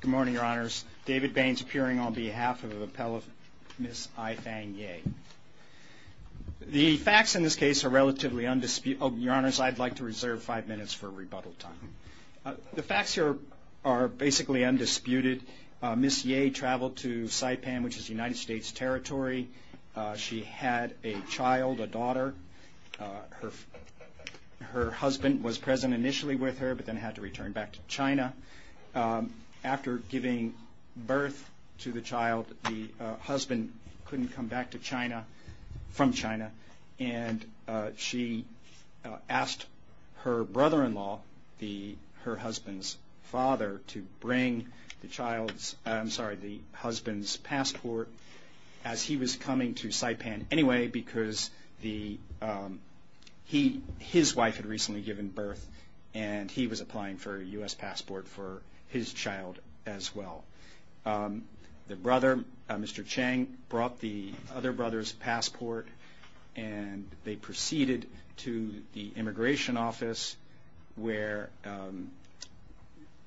Good morning, Your Honors. David Baines appearing on behalf of the Appellate Miss Aifang Ye. The facts in this case are relatively undisputed. Oh, Your Honors, I'd like to reserve five minutes for rebuttal time. The facts here are basically undisputed. Miss Ye traveled to Saipan, which is United States territory. She had a child, a daughter. Her husband was present initially with her, but then had to return back to China. After giving birth to the child, the husband couldn't come back from China, and she asked her brother-in-law, her husband's father, to bring the husband's passport as he was coming to Saipan anyway because his wife had recently given birth, and he was applying for a U.S. passport for his child as well. The brother, Mr. Chang, brought the other brother's passport, and they proceeded to the immigration office where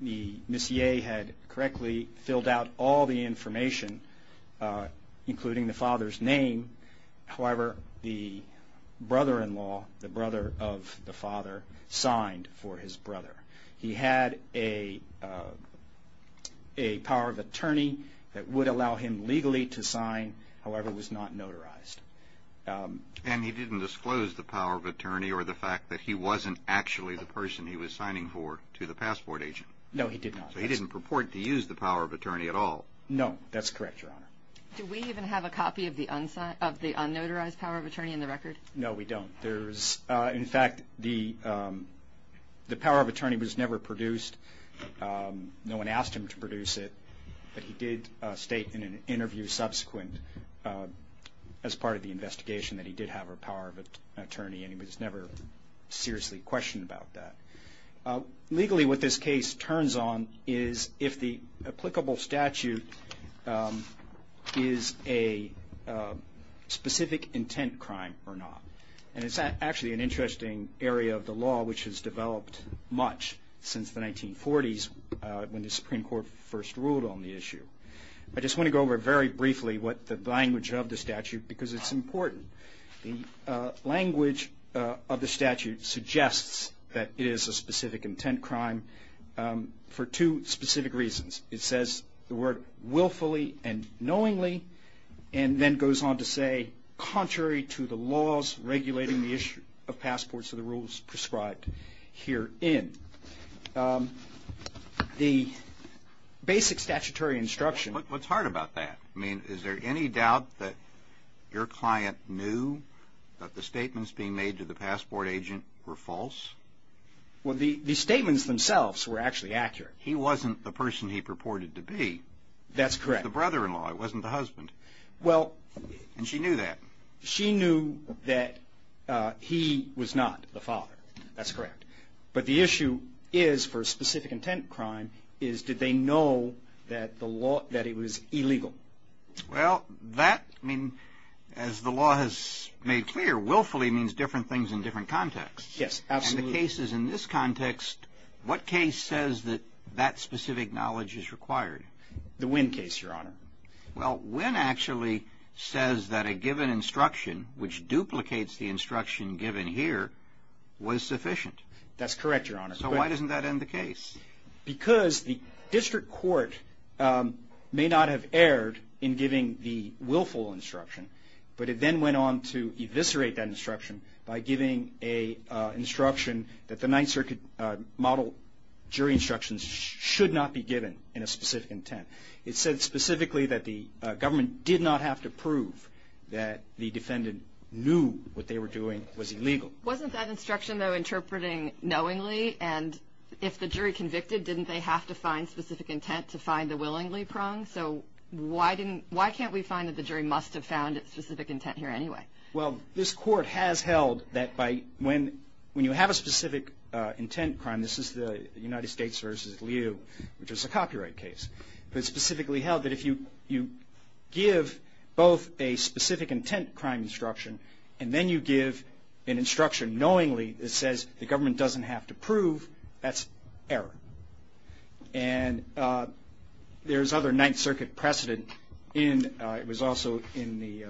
Miss Ye had correctly filled out all the information, including the father's name. However, the brother-in-law, the brother of the father, signed for his brother. He had a power of attorney that would allow him legally to sign, however, was not notarized. And he didn't disclose the power of attorney or the fact that he wasn't actually the person he was signing for to the passport agent? No, he did not. So he didn't purport to use the power of attorney at all? No, that's correct, Your Honor. Do we even have a copy of the unnotarized power of attorney in the record? No, we don't. In fact, the power of attorney was never produced. No one asked him to produce it, but he did state in an interview subsequent as part of the investigation that he did have a power of attorney, and he was never seriously questioned about that. Legally, what this case turns on is if the applicable statute is a specific intent crime or not, and it's actually an interesting area of the law which has developed much since the 1940s when the Supreme Court first ruled on the issue. I just want to go over very briefly what the language of the statute, because it's important. The language of the statute suggests that it is a specific intent crime for two specific reasons. It says the word willfully and knowingly, and then goes on to say contrary to the laws regulating the issue of passports or the rules prescribed herein. The basic statutory instruction... What's hard about that? I mean, is there any doubt that your client knew that the statements being made to the passport agent were false? Well, the statements themselves were actually accurate. He wasn't the person he purported to be. That's correct. The brother-in-law. It wasn't the husband. Well... And she knew that. She knew that he was not the father. That's correct. But the issue is for a specific intent crime is did they know that it was illegal? Well, that, I mean, as the law has made clear, willfully means different things in different contexts. Yes, absolutely. And the cases in this context, what case says that that specific knowledge is required? The Winn case, Your Honor. Well, Winn actually says that a given instruction, which duplicates the instruction given here, was sufficient. That's that end the case. Because the district court may not have erred in giving the willful instruction, but it then went on to eviscerate that instruction by giving a instruction that the Ninth Circuit model jury instructions should not be given in a specific intent. It said specifically that the government did not have to prove that the defendant knew what they were doing was illegal. Wasn't that instruction, though, knowingly? And if the jury convicted, didn't they have to find specific intent to find the willingly prong? So why can't we find that the jury must have found its specific intent here anyway? Well, this court has held that when you have a specific intent crime, this is the United States versus Liu, which is a copyright case, but specifically held that if you give both a specific intent crime instruction and then you give an instruction knowingly that says the government doesn't have to prove, that's error. And there's other Ninth Circuit precedent. It was also in the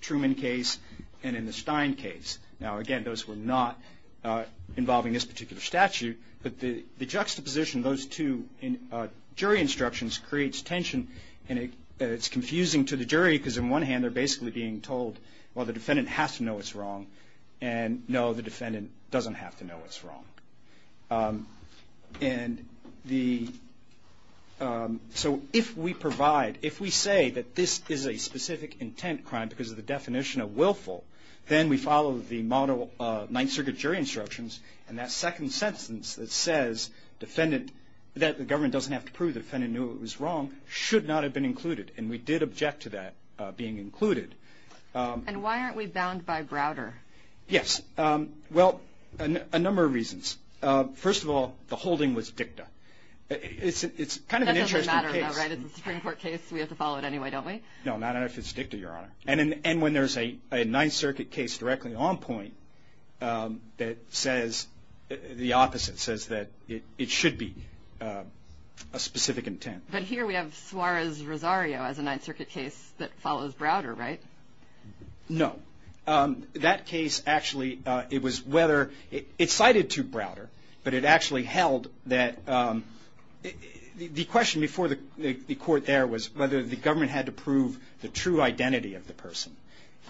Truman case and in the Stein case. Now, again, those were not involving this particular statute, but the juxtaposition of those two jury instructions creates tension, and it's confusing to the jury, because on one hand, they're basically being told, well, the defendant has to know what's wrong, and no, the defendant doesn't have to know what's wrong. And the, so if we provide, if we say that this is a specific intent crime because of the definition of willful, then we follow the model of Ninth Circuit jury instructions, and that second sentence that says defendant, that the government doesn't have to prove the defendant knew what was wrong, should not have been included. And we did object to that being included. And why aren't we bound by Browder? Yes. Well, a number of reasons. First of all, the holding was dicta. It's kind of an interesting case. That doesn't matter, though, right? It's a Supreme Court case. We have to follow it anyway, don't we? No, not if it's dicta, Your Honor. And when there's a Ninth Circuit case directly on point that says, the opposite says that it should be a specific intent. But here we have Suarez-Rosario as a Ninth Circuit case that follows Browder, right? No. That case actually, it was whether, it cited to Browder, but it actually held that, the question before the court there was whether the government had to prove the true identity of the person.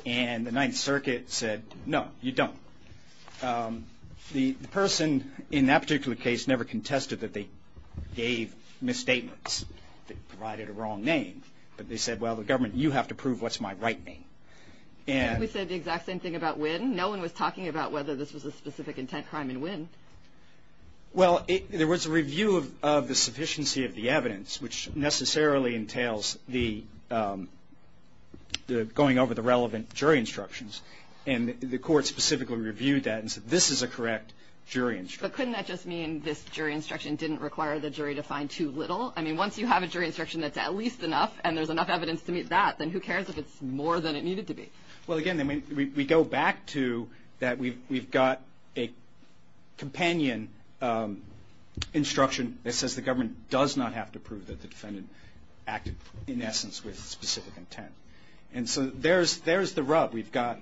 And the Ninth Circuit said, no, you don't. The person in that particular case never contested that they gave misstatements that provided a wrong name. But they said, well, the government, you have to prove what's my right name. And we said the exact same thing about Winn. No one was talking about whether this was a specific intent crime in Winn. Well, there was a review of the sufficiency of the evidence, which necessarily entails the going over the case. And the court specifically reviewed that and said, this is a correct jury instruction. But couldn't that just mean this jury instruction didn't require the jury to find too little? I mean, once you have a jury instruction that's at least enough, and there's enough evidence to meet that, then who cares if it's more than it needed to be? Well, again, I mean, we go back to that. We've got a companion instruction that says the government does not have to prove that the defendant acted, in essence, with specific intent. And so there's the rub. We've got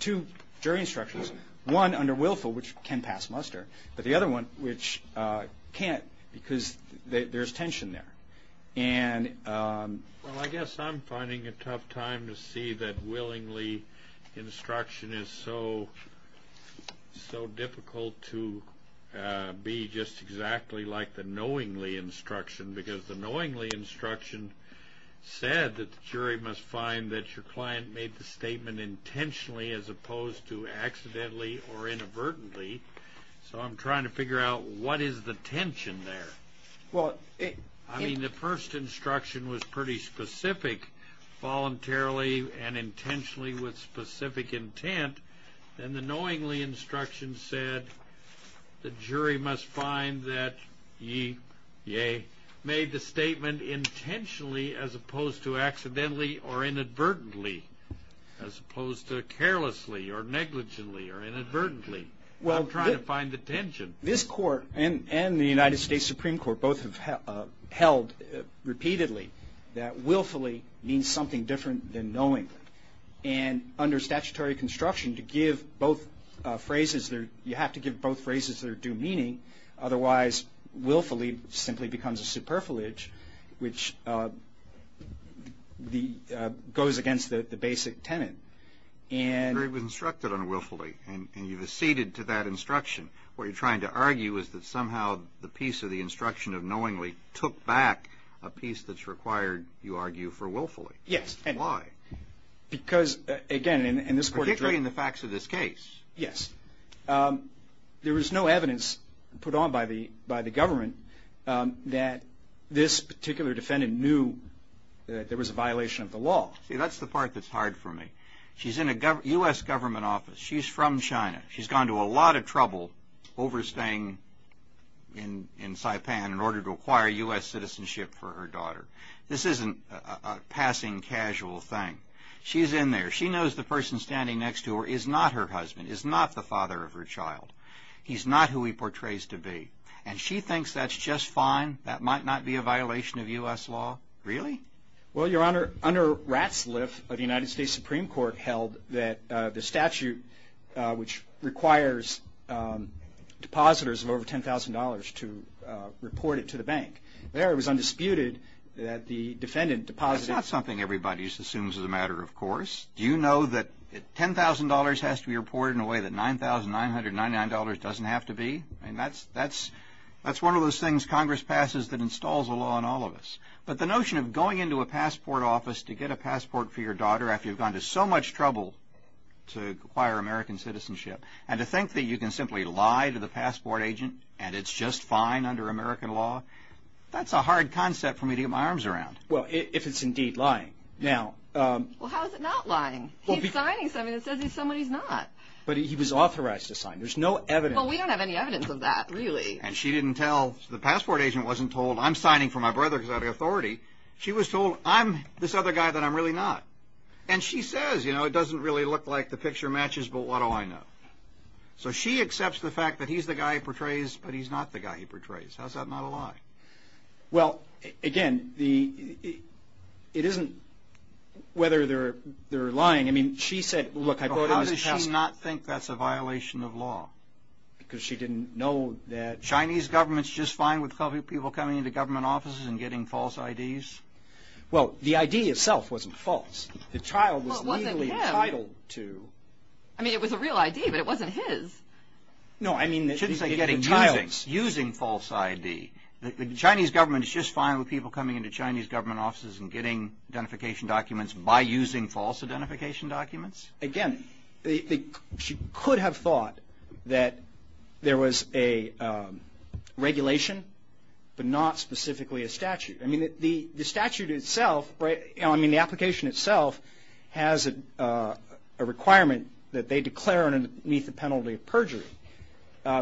two jury instructions, one under Willful, which can pass muster, but the other one which can't because there's tension there. And I guess I'm finding a tough time to see that willingly instruction is so difficult to be just exactly like the knowingly instruction, because the knowingly instruction said that the jury must find that your client made the statement intentionally as opposed to accidentally or inadvertently. So I'm trying to figure out what is the tension there? Well, it... I mean, the first instruction was pretty specific, voluntarily and intentionally with specific intent. And the knowingly instruction said, the jury must find that ye made the statement intentionally as opposed to accidentally or inadvertently, as opposed to carelessly or negligently or inadvertently. I'm trying to find the tension. This court and the United States Supreme Court both have held repeatedly that willfully means something different than knowing. And under both phrases, there's due meaning. Otherwise, willfully simply becomes a superfilage, which goes against the basic tenet. And the jury was instructed on willfully, and you've acceded to that instruction. What you're trying to argue is that somehow the piece of the instruction of knowingly took back a piece that's required, you argue, for willfully. Yes. Why? Because, again, in this court... Particularly in the facts of this case. Yes. There was no evidence put on by the government that this particular defendant knew that there was a violation of the law. See, that's the part that's hard for me. She's in a U.S. government office. She's from China. She's gone to a lot of trouble overstaying in Saipan in order to acquire U.S. citizenship for her daughter. This isn't a passing casual thing. She's in there. She knows the person standing next to her is not her husband, is not the father of her child. He's not who he portrays to be. And she thinks that's just fine, that might not be a violation of U.S. law. Really? Well, Your Honor, under Ratzliff, the United States Supreme Court held that the statute which requires depositors of over $10,000 to report it to the bank. There, it was undisputed that the defendant deposited... That's not something everybody assumes is a matter of course. Do you know that $10,000 has to be reported in a way that $9,999 doesn't have to be? I mean, that's one of those things Congress passes that installs a law on all of us. But the notion of going into a passport office to get a passport for your daughter after you've gone to so much trouble to acquire American citizenship, and to think that you can simply lie to the passport agent and it's just fine under American law, that's a hard concept for me to get my arms around. Well, if it's indeed lying. Now... Well, how is it not lying? He's signing something that says he's somebody he's not. But he was authorized to sign. There's no evidence... Well, we don't have any evidence of that, really. And she didn't tell... The passport agent wasn't told, I'm signing for my brother because I have the authority. She was told, I'm this other guy that I'm really not. And she says, you know, it doesn't really look like the picture matches, but what do I know? So she accepts the fact that he's the guy he portrays, but he's not the guy he portrays. How's that not a lie? Well, again, it isn't whether they're lying. I mean, she said... Look, how does she not think that's a violation of law? Because she didn't know that Chinese government's just fine with people coming into government offices and getting false IDs? Well, the ID itself wasn't false. The child was legally entitled to... I mean, it was a real ID, but it wasn't his. No, I mean... She didn't say getting childs. Using false ID. The Chinese government is just fine with people coming into Chinese government offices and getting identification documents by using false identification documents? Again, she could have thought that there was a regulation, but not specifically a statute. I mean, the statute itself, I mean, the application itself has a requirement that they declare underneath the penalty of perjury,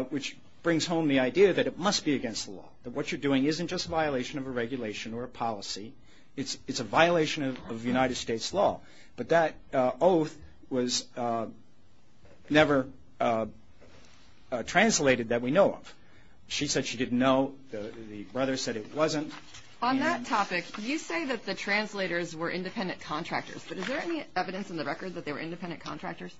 which brings home the idea that it must be against the law, that what you're doing isn't just a violation of a regulation or a policy. It's a violation of United States law. But that oath was never translated that we know of. She said she didn't know. The brother said it wasn't. On that topic, you say that the translators were independent contractors, but is there any evidence in the record that they were independent contractors?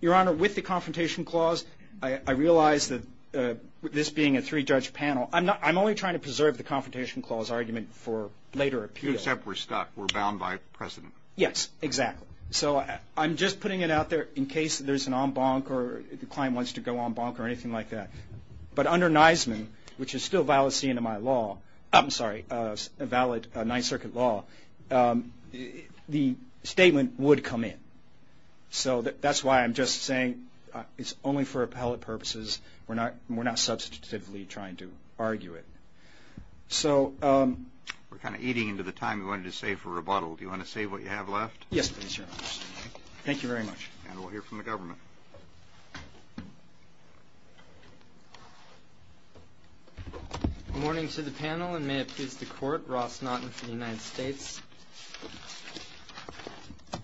Your Honor, with the confrontation clause, I realized that this being a three-judge panel, I'm only trying to preserve the confrontation clause argument for later appeal. Except we're stuck. We're bound by precedent. Yes, exactly. So I'm just putting it out there in case there's an en banc or the client wants to go en banc or anything like that. But under Neisman, which is still a valid scene in my law, I'm sorry, a valid Ninth Circuit law, the statement would come in. So that's why I'm just saying it's only for appellate purposes. We're not substitutively trying to argue it. So we're kind of eating into the time we wanted to save for rebuttal. Do you want to say what you have left? Yes, please, Your Honor. Thank you very much. And we'll hear from the government. Good morning to the panel, and may it please the Court, Ross Naughton for the United States.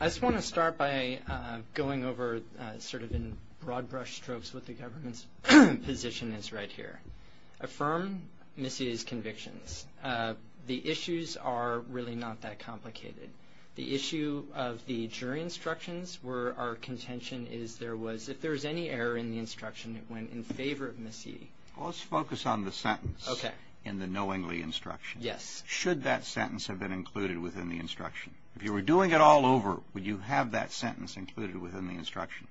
I just want to start by going over sort of in broad brush strokes what the government's position is right here. Affirm Missy's convictions. The issues are really not that complicated. The issue of the jury instructions were our contention is there was, if there was any error in the instruction, it went in favor of Missy. Let's focus on the sentence in the knowingly instruction. Yes. Should that sentence have been included within the instruction? If you were doing it all over, would you have that sentence included within the instruction?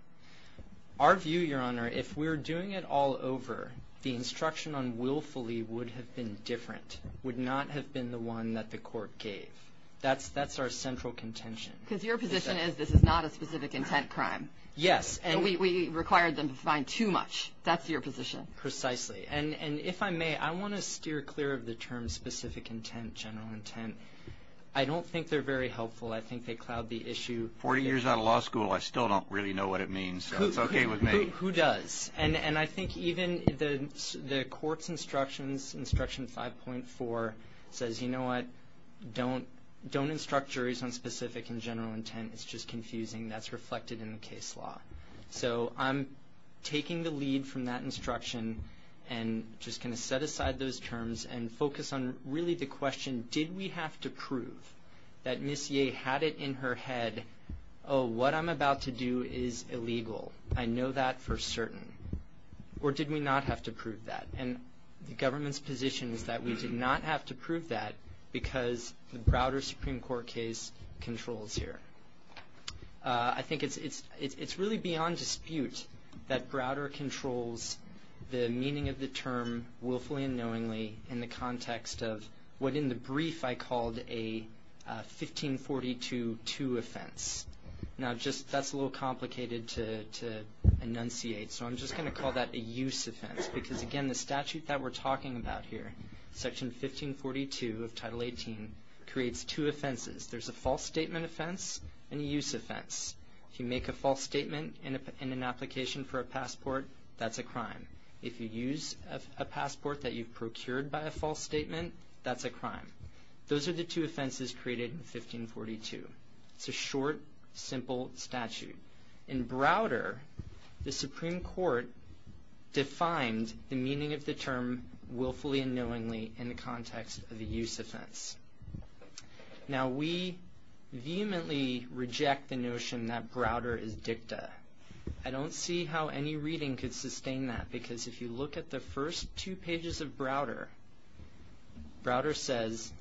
Our view, Your Honor, if we're doing it all over, the instruction on willfully would have been different, would not have been the one that the court gave. That's that's our central contention. Because your position is this is not a specific intent crime. Yes. And we required them to find too much. That's your position. Precisely. And if I may, I want to steer clear of the term specific intent, general intent. I don't think they're very helpful. I think they cloud the issue. 40 years out of law school, I still don't really know what it means. So it's okay with me. Who does? And I think even the court's instructions, instruction 5.4 says, you know what, don't instruct juries on specific and general intent. It's just And just going to set aside those terms and focus on really the question, did we have to prove that Ms. Yeh had it in her head? Oh, what I'm about to do is illegal. I know that for certain. Or did we not have to prove that? And the government's position is that we did not have to prove that because the Browder Supreme Court case controls here. I think it's really beyond dispute that Browder controls the meaning of the term willfully and knowingly in the context of what, in the brief, I called a 1542-2 offense. Now, just that's a little complicated to enunciate. So I'm just going to call that a use offense, because, again, the statute that we're talking about here, Section 1542 of Title 18, creates two offenses. There's a false statement offense and a use offense. If you make a false statement in an application for a passport, that's a crime. If you use a passport that you've procured by a false statement, that's a crime. Those are the two offenses created in 1542. It's a short, simple statute. In Browder, the Supreme Court defined the meaning of the term willfully and knowingly in the context of a use offense. Now, we vehemently reject the notion that Browder is dicta. I don't see how any reading could sustain that, because if you look at the first two pages of Browder, Browder says,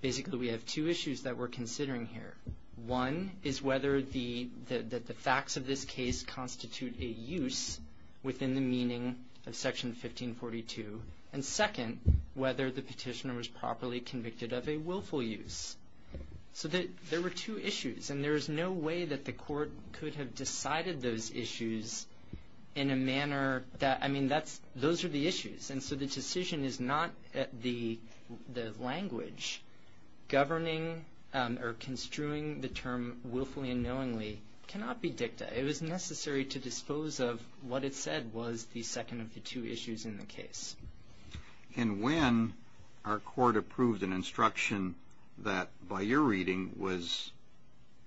basically, we have two issues that we're considering here. One is whether the facts of this case constitute a use within the meaning of Section 1542. And second, whether the petitioner was properly convicted of a willful use. So there were two issues, and there is no way that the court could have decided those issues in a manner that, I mean, those are the issues. And so the decision is not the language governing or construing the term willfully and knowingly cannot be dicta. It was necessary to dispose of what it said was the second of the two issues in the case. And when our court approved an instruction that, by your reading, was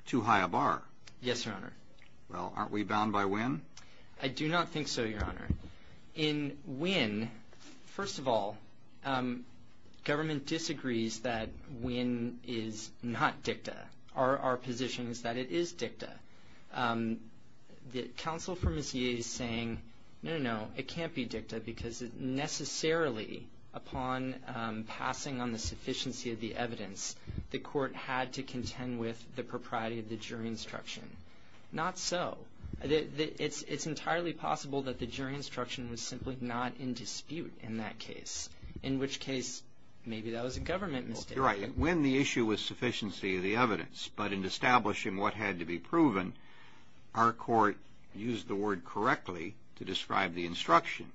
too high a bar? Yes, Your Honor. Well, aren't we bound by when? I do not think so, Your Honor. In when, first of all, government disagrees that when is not dicta. Our position is that it is dicta. The counsel for Ms. Yee is saying, no, no, it can't be dicta, because it necessarily, upon passing on the sufficiency of the evidence, the court had to contend with the propriety of the jury instruction. Not so. It's entirely possible that the jury instruction was simply not in dispute in that case, in which case maybe that was a government mistake. You're right. When the issue was sufficiency of the evidence, but in establishing what had to be proven, our court used the word correctly to describe the instruction.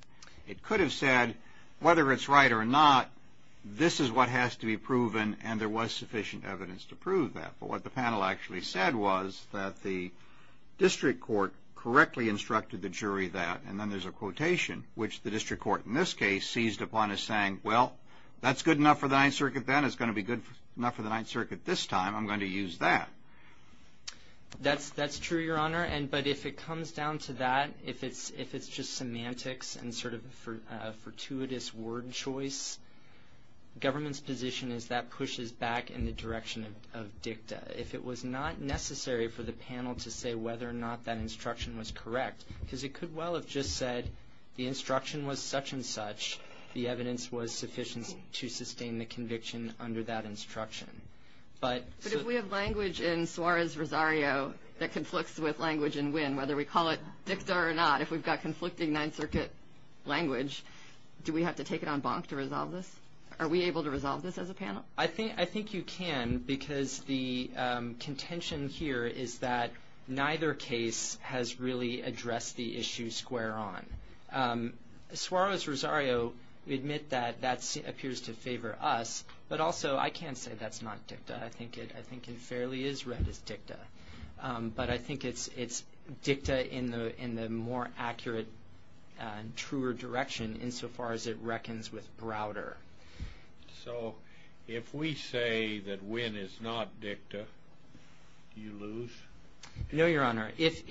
It could have said, whether it's right or not, this is what has to be proven, and there was sufficient evidence to prove that. But what the panel actually said was that the district court correctly instructed the jury that, and then there's a quotation, which the district court, in this case, seized upon as saying, well, that's good enough for the Ninth Circuit then. It's going to be good enough for the Ninth Circuit this time. I'm going to use that. That's true, Your Honor. But if it comes down to that, if it's just semantics and sort of a fortuitous word choice, government's position is that pushes back in the direction of dicta. If it was not necessary for the panel to say whether or not that instruction was correct, because it could well have just said, the instruction was such and such, the evidence was sufficient to sustain the conviction under that instruction. But if we have language in Suarez-Rosario that conflicts with language in Winn, whether we call it dicta or not, if we've got conflicting Ninth Circuit language, do we have to take it on bonk to resolve this? Are we able to resolve this as a panel? I think you can, because the contention here is that neither case has really addressed the issue square on. Suarez-Rosario, we admit that that appears to favor us, but also I can't say that's not dicta. I think it fairly is read as dicta. But I think it's dicta in the more accurate and truer direction insofar as it reckons with Browder. So if we say that Winn is not dicta, do you lose? No, Your Honor. If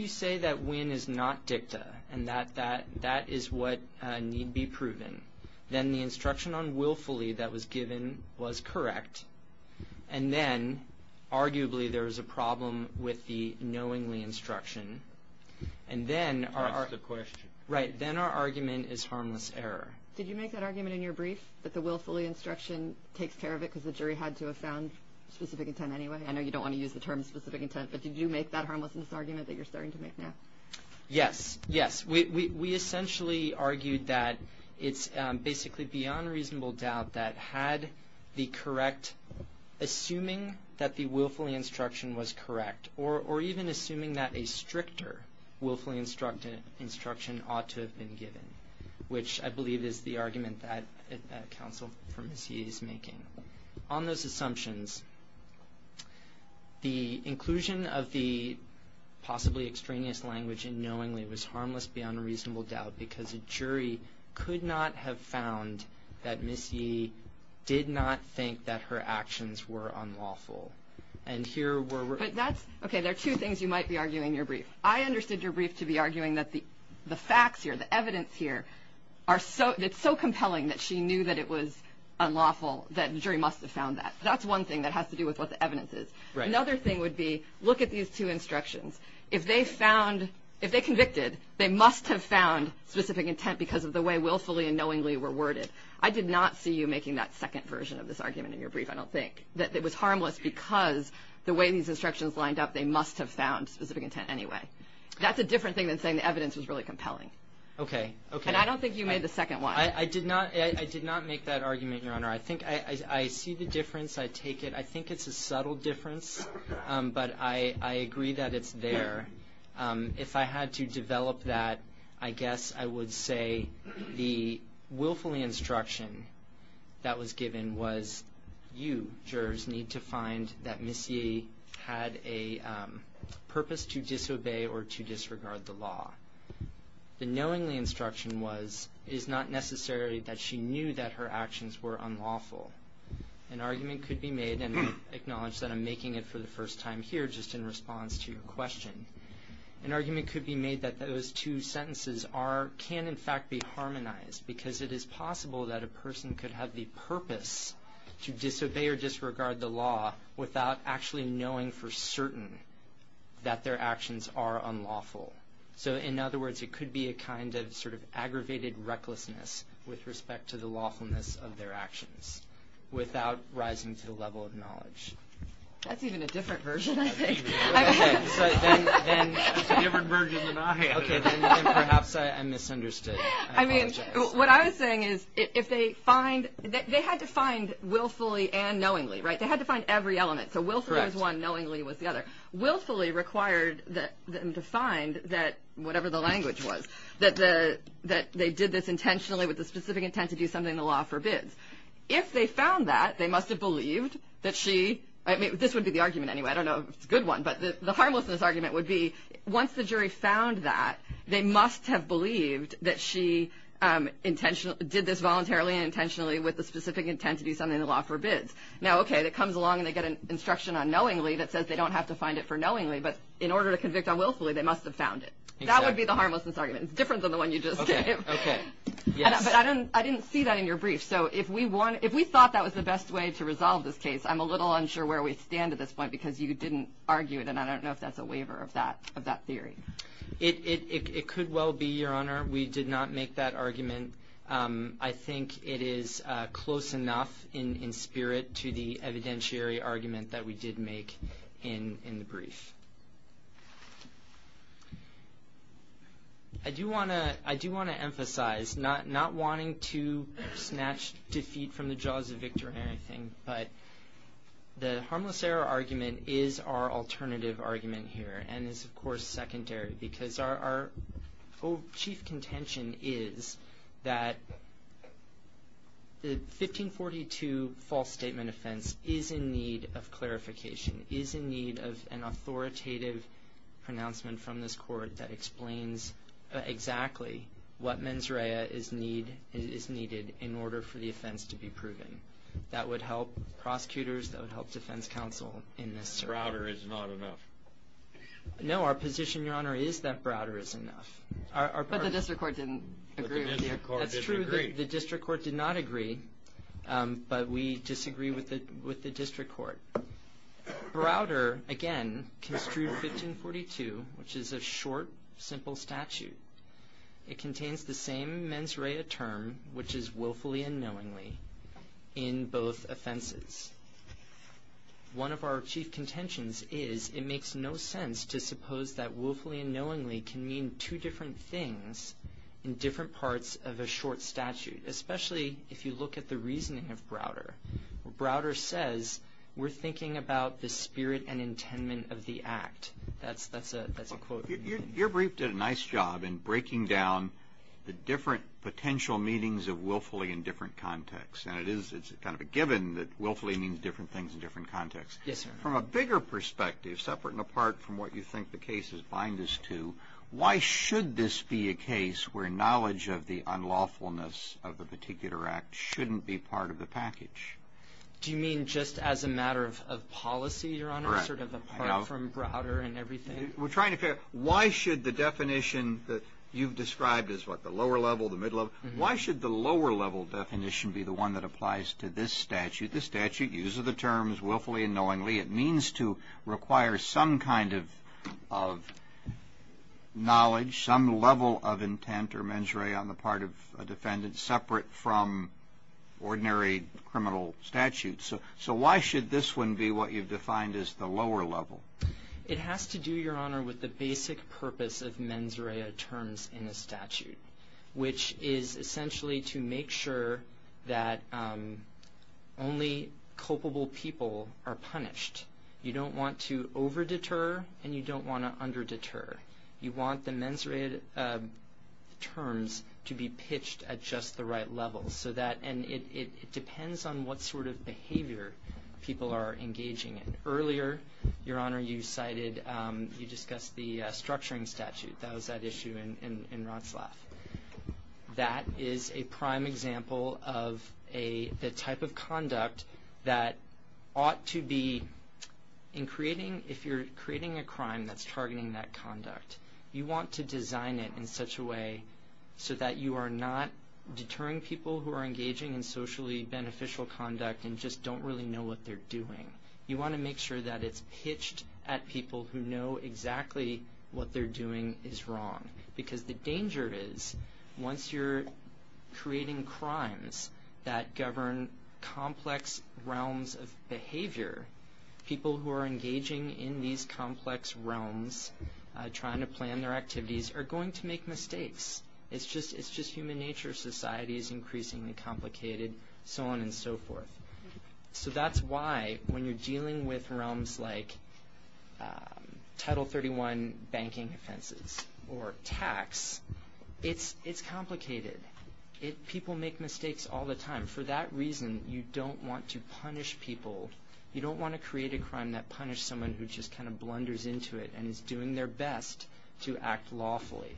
you say that Winn is not dicta, and that is what need be proven, then the instruction on Willfully that was given was correct. And then, arguably, there is a problem with the knowingly instruction. And then our argument is harmless error. Did you make that argument in your brief, that the Willfully instruction takes care of it because the jury had to have found specific intent anyway? I know you don't want to use the term specific intent, but did you make that harmlessness argument that you're starting to make now? Yes, yes. We essentially argued that it's basically beyond reasonable doubt that had the correct, assuming that the Willfully instruction was correct, or even assuming that a stricter Willfully instruction ought to have been given, which I believe is the argument that counsel is making. On those assumptions, the inclusion of the possibly extraneous language in knowingly was harmless beyond reasonable doubt because a jury could not have found that Ms. Yee did not think that her actions were unlawful. And here were... Okay, there are two things you might be arguing in your brief. I understood your brief to be arguing that the facts here, the evidence here, are so compelling that she knew that it was unlawful, that the jury must have found that. That's one thing that has to do with what the evidence is. Another thing would be, look at these two instructions. If they found, if they convicted, they must have found specific intent because of the way Willfully and Knowingly were worded. I did not see you making that second version of this argument in your brief, I don't think, that it was harmless because the way these instructions lined up, they must have found specific intent anyway. That's a different thing than saying the evidence was really compelling. Okay, okay. And I don't think you made the second one. I did not make that argument, Your Honor. I think I see the difference, I take it. I think it's a subtle difference, but I agree that it's there. If I had to develop that, I guess I would say the Willfully instruction that was given was, you, jurors, need to find that Ms. Yee had a purpose to disobey or to disregard the law. The Knowingly instruction was, it is not necessary that she knew that her actions were unlawful. An argument could be made, and I acknowledge that I'm making it for the first time here just in response to your question. An argument could be made that those two sentences are, can in fact be harmonized because it is possible that a person could have the purpose to disobey or disregard the law without actually knowing for certain that their actions are unlawful. So in other words, it could be a kind of sort of aggravated recklessness with respect to the lawfulness of their actions without rising to the level of knowledge. That's even a different version, I think. That's a different version than I had. Okay, then perhaps I misunderstood. I apologize. What I was saying is, if they find, they had to find Willfully and Knowingly, right? They had to find every element. So Willfully was one, Knowingly was the other. Willfully required them to find that, whatever the language was, that they did this intentionally with the specific intent to do something the law forbids. If they found that, they must have believed that she, I mean, this would be the argument anyway. I don't know if it's a good one, but the harmlessness argument would be, once the jury found that, they must have believed that she did this voluntarily and intentionally with the specific intent to do something the law forbids. Now, okay, that comes along and they get an instruction on Knowingly that says they don't have to find it for Knowingly, but in order to convict on Willfully, they must have found it. That would be the harmlessness argument. It's different than the one you just gave. Okay, yes. But I didn't see that in your brief. So if we thought that was the best way to resolve this case, I'm a little unsure where we stand at this point because you didn't argue it, and I don't know if that's a waiver of that theory. It could well be, Your Honor. We did not make that argument. I think it is close enough in spirit to the evidentiary argument that we did make in the brief. I do want to emphasize not wanting to snatch defeat from the jaws of victory or anything, but the harmless error argument is our alternative argument here and is, of course, secondary because our chief contention is that the 1542 false statement offense is in need of clarification, is in need of an authoritative pronouncement from this court that explains exactly what mens rea is needed in order for the offense to be proven. That would help prosecutors. That would help defense counsel in this. Prouder is not enough. No, our position, Your Honor, is that Browder is enough. But the district court didn't agree with you. That's true. The district court did not agree, but we disagree with the district court. Browder, again, construed 1542, which is a short, simple statute. It contains the same mens rea term, which is willfully and knowingly, in both offenses. One of our chief contentions is it makes no sense to suppose that willfully and knowingly can mean two different things in different parts of a short statute, especially if you look at the reasoning of Browder. Browder says we're thinking about the spirit and intent of the act. That's a quote. Your brief did a nice job in breaking down the different potential meanings of willfully in different contexts. And it's kind of a given that willfully means different things in different contexts. Yes, Your Honor. From a bigger perspective, separate and apart from what you think the case is bind us to, why should this be a case where knowledge of the unlawfulness of the particular act shouldn't be part of the package? Do you mean just as a matter of policy, Your Honor, sort of apart from Browder and everything? We're trying to figure out why should the definition that you've described as what, the lower level, the middle level, why should the lower level definition be the one that applies to this statute? The statute uses the terms willfully and knowingly. It means to require some kind of knowledge, some level of intent or mens rea on the part of a defendant separate from ordinary criminal statutes. So why should this one be what you've defined as the lower level? It has to do, Your Honor, with the basic purpose of mens rea terms in a statute, which is essentially to make sure that only culpable people are punished. You don't want to over deter and you don't want to under deter. You want the mens rea terms to be pitched at just the right level so that, and it depends on what sort of behavior people are engaging in. Earlier, Your Honor, you cited, you discussed the structuring statute. That was that issue in Rotslaf. That is a prime example of a, the type of conduct that ought to be in creating, if you're creating a crime that's targeting that conduct, you want to design it in such a way so that you are not deterring people who are engaging in socially beneficial conduct and just don't really know what they're doing. You want to make sure that it's pitched at people who know exactly what they're doing is wrong. Because the danger is, once you're creating crimes that govern complex realms of behavior, people who are engaging in these complex realms, trying to plan their activities, are going to make mistakes. It's just, it's just human nature. Society is increasingly complicated, so on and so forth. So that's why, when you're dealing with realms like Title 31 banking offenses or tax, it's complicated, people make mistakes all the time. For that reason, you don't want to punish people, you don't want to create a crime that punishes someone who just kind of blunders into it and is doing their best to act lawfully.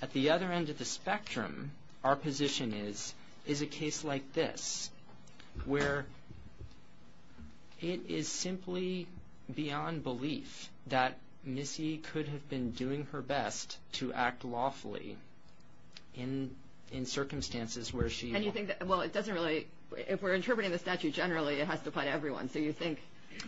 At the other end of the spectrum, our position is, is a case like this, where it is simply beyond belief that Missy could have been doing her best to act lawfully in circumstances where she... And you think that, well, it doesn't really, if we're interpreting the statute generally, it has to apply to everyone, so you think...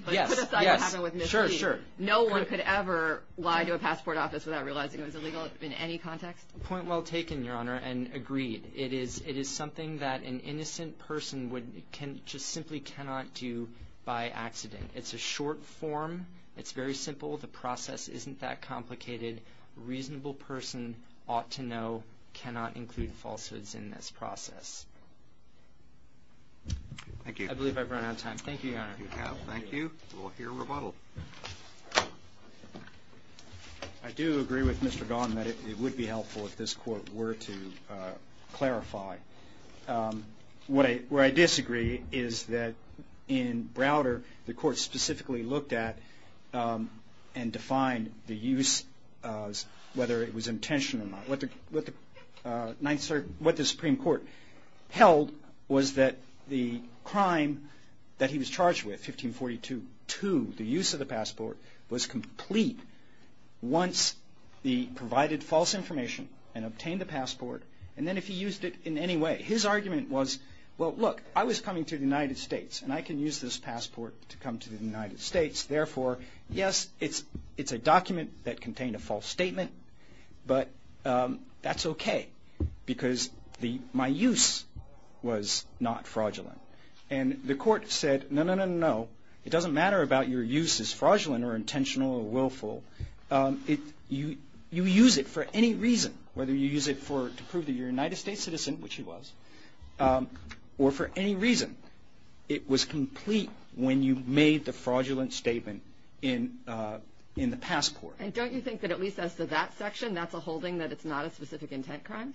Yes, yes, sure, sure. No one could ever lie to a passport office without realizing it was illegal in any context? Point well taken, Your Honor, and agreed. It is something that an innocent person would... can... just simply cannot do by accident. It's a short form, it's very simple, the process isn't that complicated. Reasonable person ought to know, cannot include falsehoods in this process. Thank you. I believe I've run out of time. Thank you, Your Honor. You have. Thank you. We'll hear rebuttal. I do agree with Mr. Gahan that it would be helpful if this court were to clarify. What I disagree is that in Browder, the court specifically looked at and defined the use of whether it was intentional or not. What the Supreme Court held was that the crime that he was charged with, 1542-2, the use of the passport, was complete once he provided false information and obtained the passport, and then if he used it in any way. His argument was, well, look, I was coming to the United States, and I can use this passport to come to the United States. Therefore, yes, it's a document that contained a false statement, but that's okay because my use was not fraudulent. And the court said, no, no, no, no. It doesn't matter about your use as fraudulent or intentional or willful. You use it for any reason, whether you use it to prove that you're a United States citizen, which he was, or for any reason. It was complete when you made the fraudulent statement in the passport. And don't you think that at least as to that section, that's a holding that it's not a specific intent crime?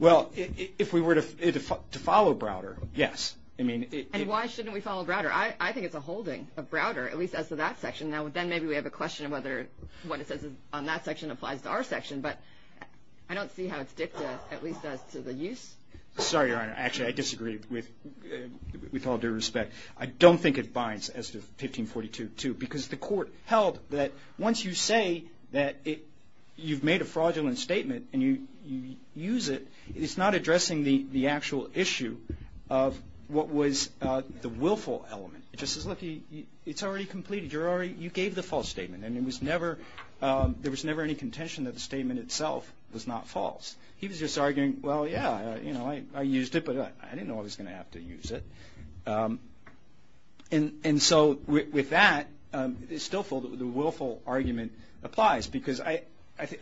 Well, if we were to follow Browder, yes. I mean, it... And why shouldn't we follow Browder? I think it's a holding of Browder, at least as to that section. Now, then maybe we have a question of whether what it says on that section applies to our section, but I don't see how it's dicta at least as to the use. Sorry, Your Honor. Actually, I disagree with all due respect. I don't think it binds as to 1542-2 because the court held that once you say that you've made a fraudulent statement and you use it, it's not addressing the actual issue of what was the willful element. It just says, look, it's already completed. You gave the false statement. And there was never any contention that the statement itself was not false. He was just arguing, well, yeah, I used it, but I didn't know I was going to have to use it. And so with that, the willful argument applies because I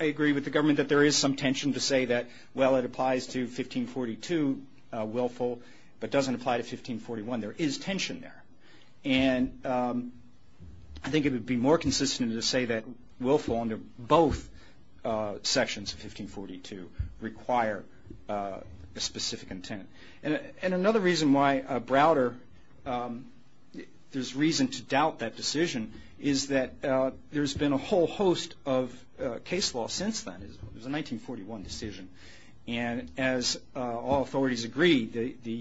agree with the government that there is some tension to say that, well, it applies to 1542, willful, but doesn't apply to 1541. There is tension there. And I think it would be more consistent to say that willful under both sections of 1542 require a specific intent. And another reason why Browder, there's reason to doubt that decision, is that there's been a whole host of case law since then. It was a 1941 decision. And as all authorities agree, the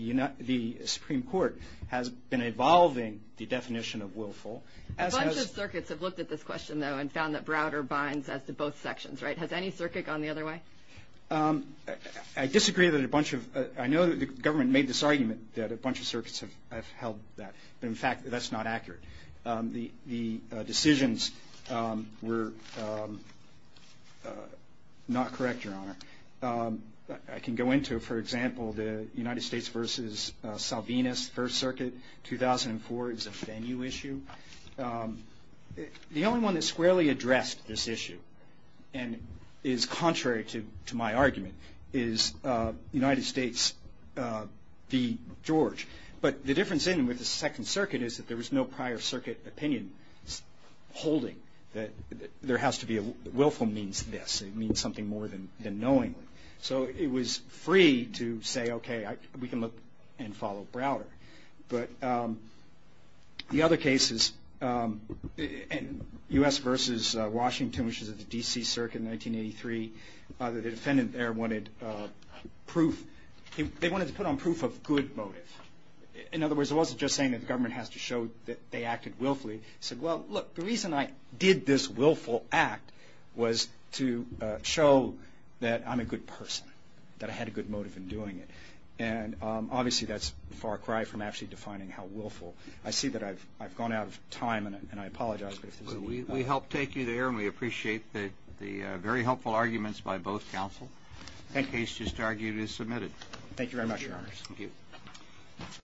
Supreme Court has been evolving the definition of willful. As has the- A bunch of circuits have looked at this question, though, and found that Browder binds as to both sections, right? Has any circuit gone the other way? I disagree that a bunch of, I know that the government made this argument that a bunch of circuits have held that, but in fact, that's not accurate. The decisions were not correct, Your Honor. I can go into, for example, the United States versus Salvinas First Circuit, 2004, is a venue issue. The only one that squarely addressed this issue, and is contrary to my argument, is United States v. George. But the difference in with the Second Circuit is that there was no prior circuit opinion holding that willful means this. It means something more than knowingly. So it was free to say, okay, we can look and follow Browder. But the other cases, U.S. versus Washington, which is at the D.C. Circuit in 1983, the defendant there wanted proof, they wanted to put on proof of good motive. In other words, it wasn't just saying that the government has to show that they acted willfully. Said, well, look, the reason I did this willful act was to show that I'm a good person, that I had a good motive in doing it. And obviously, that's far cry from actually defining how willful. I see that I've gone out of time, and I apologize. But if there's any other questions. We help take you there, and we appreciate the very helpful arguments by both counsel. That case just argued is submitted. Thank you very much, Your Honors. Thank you.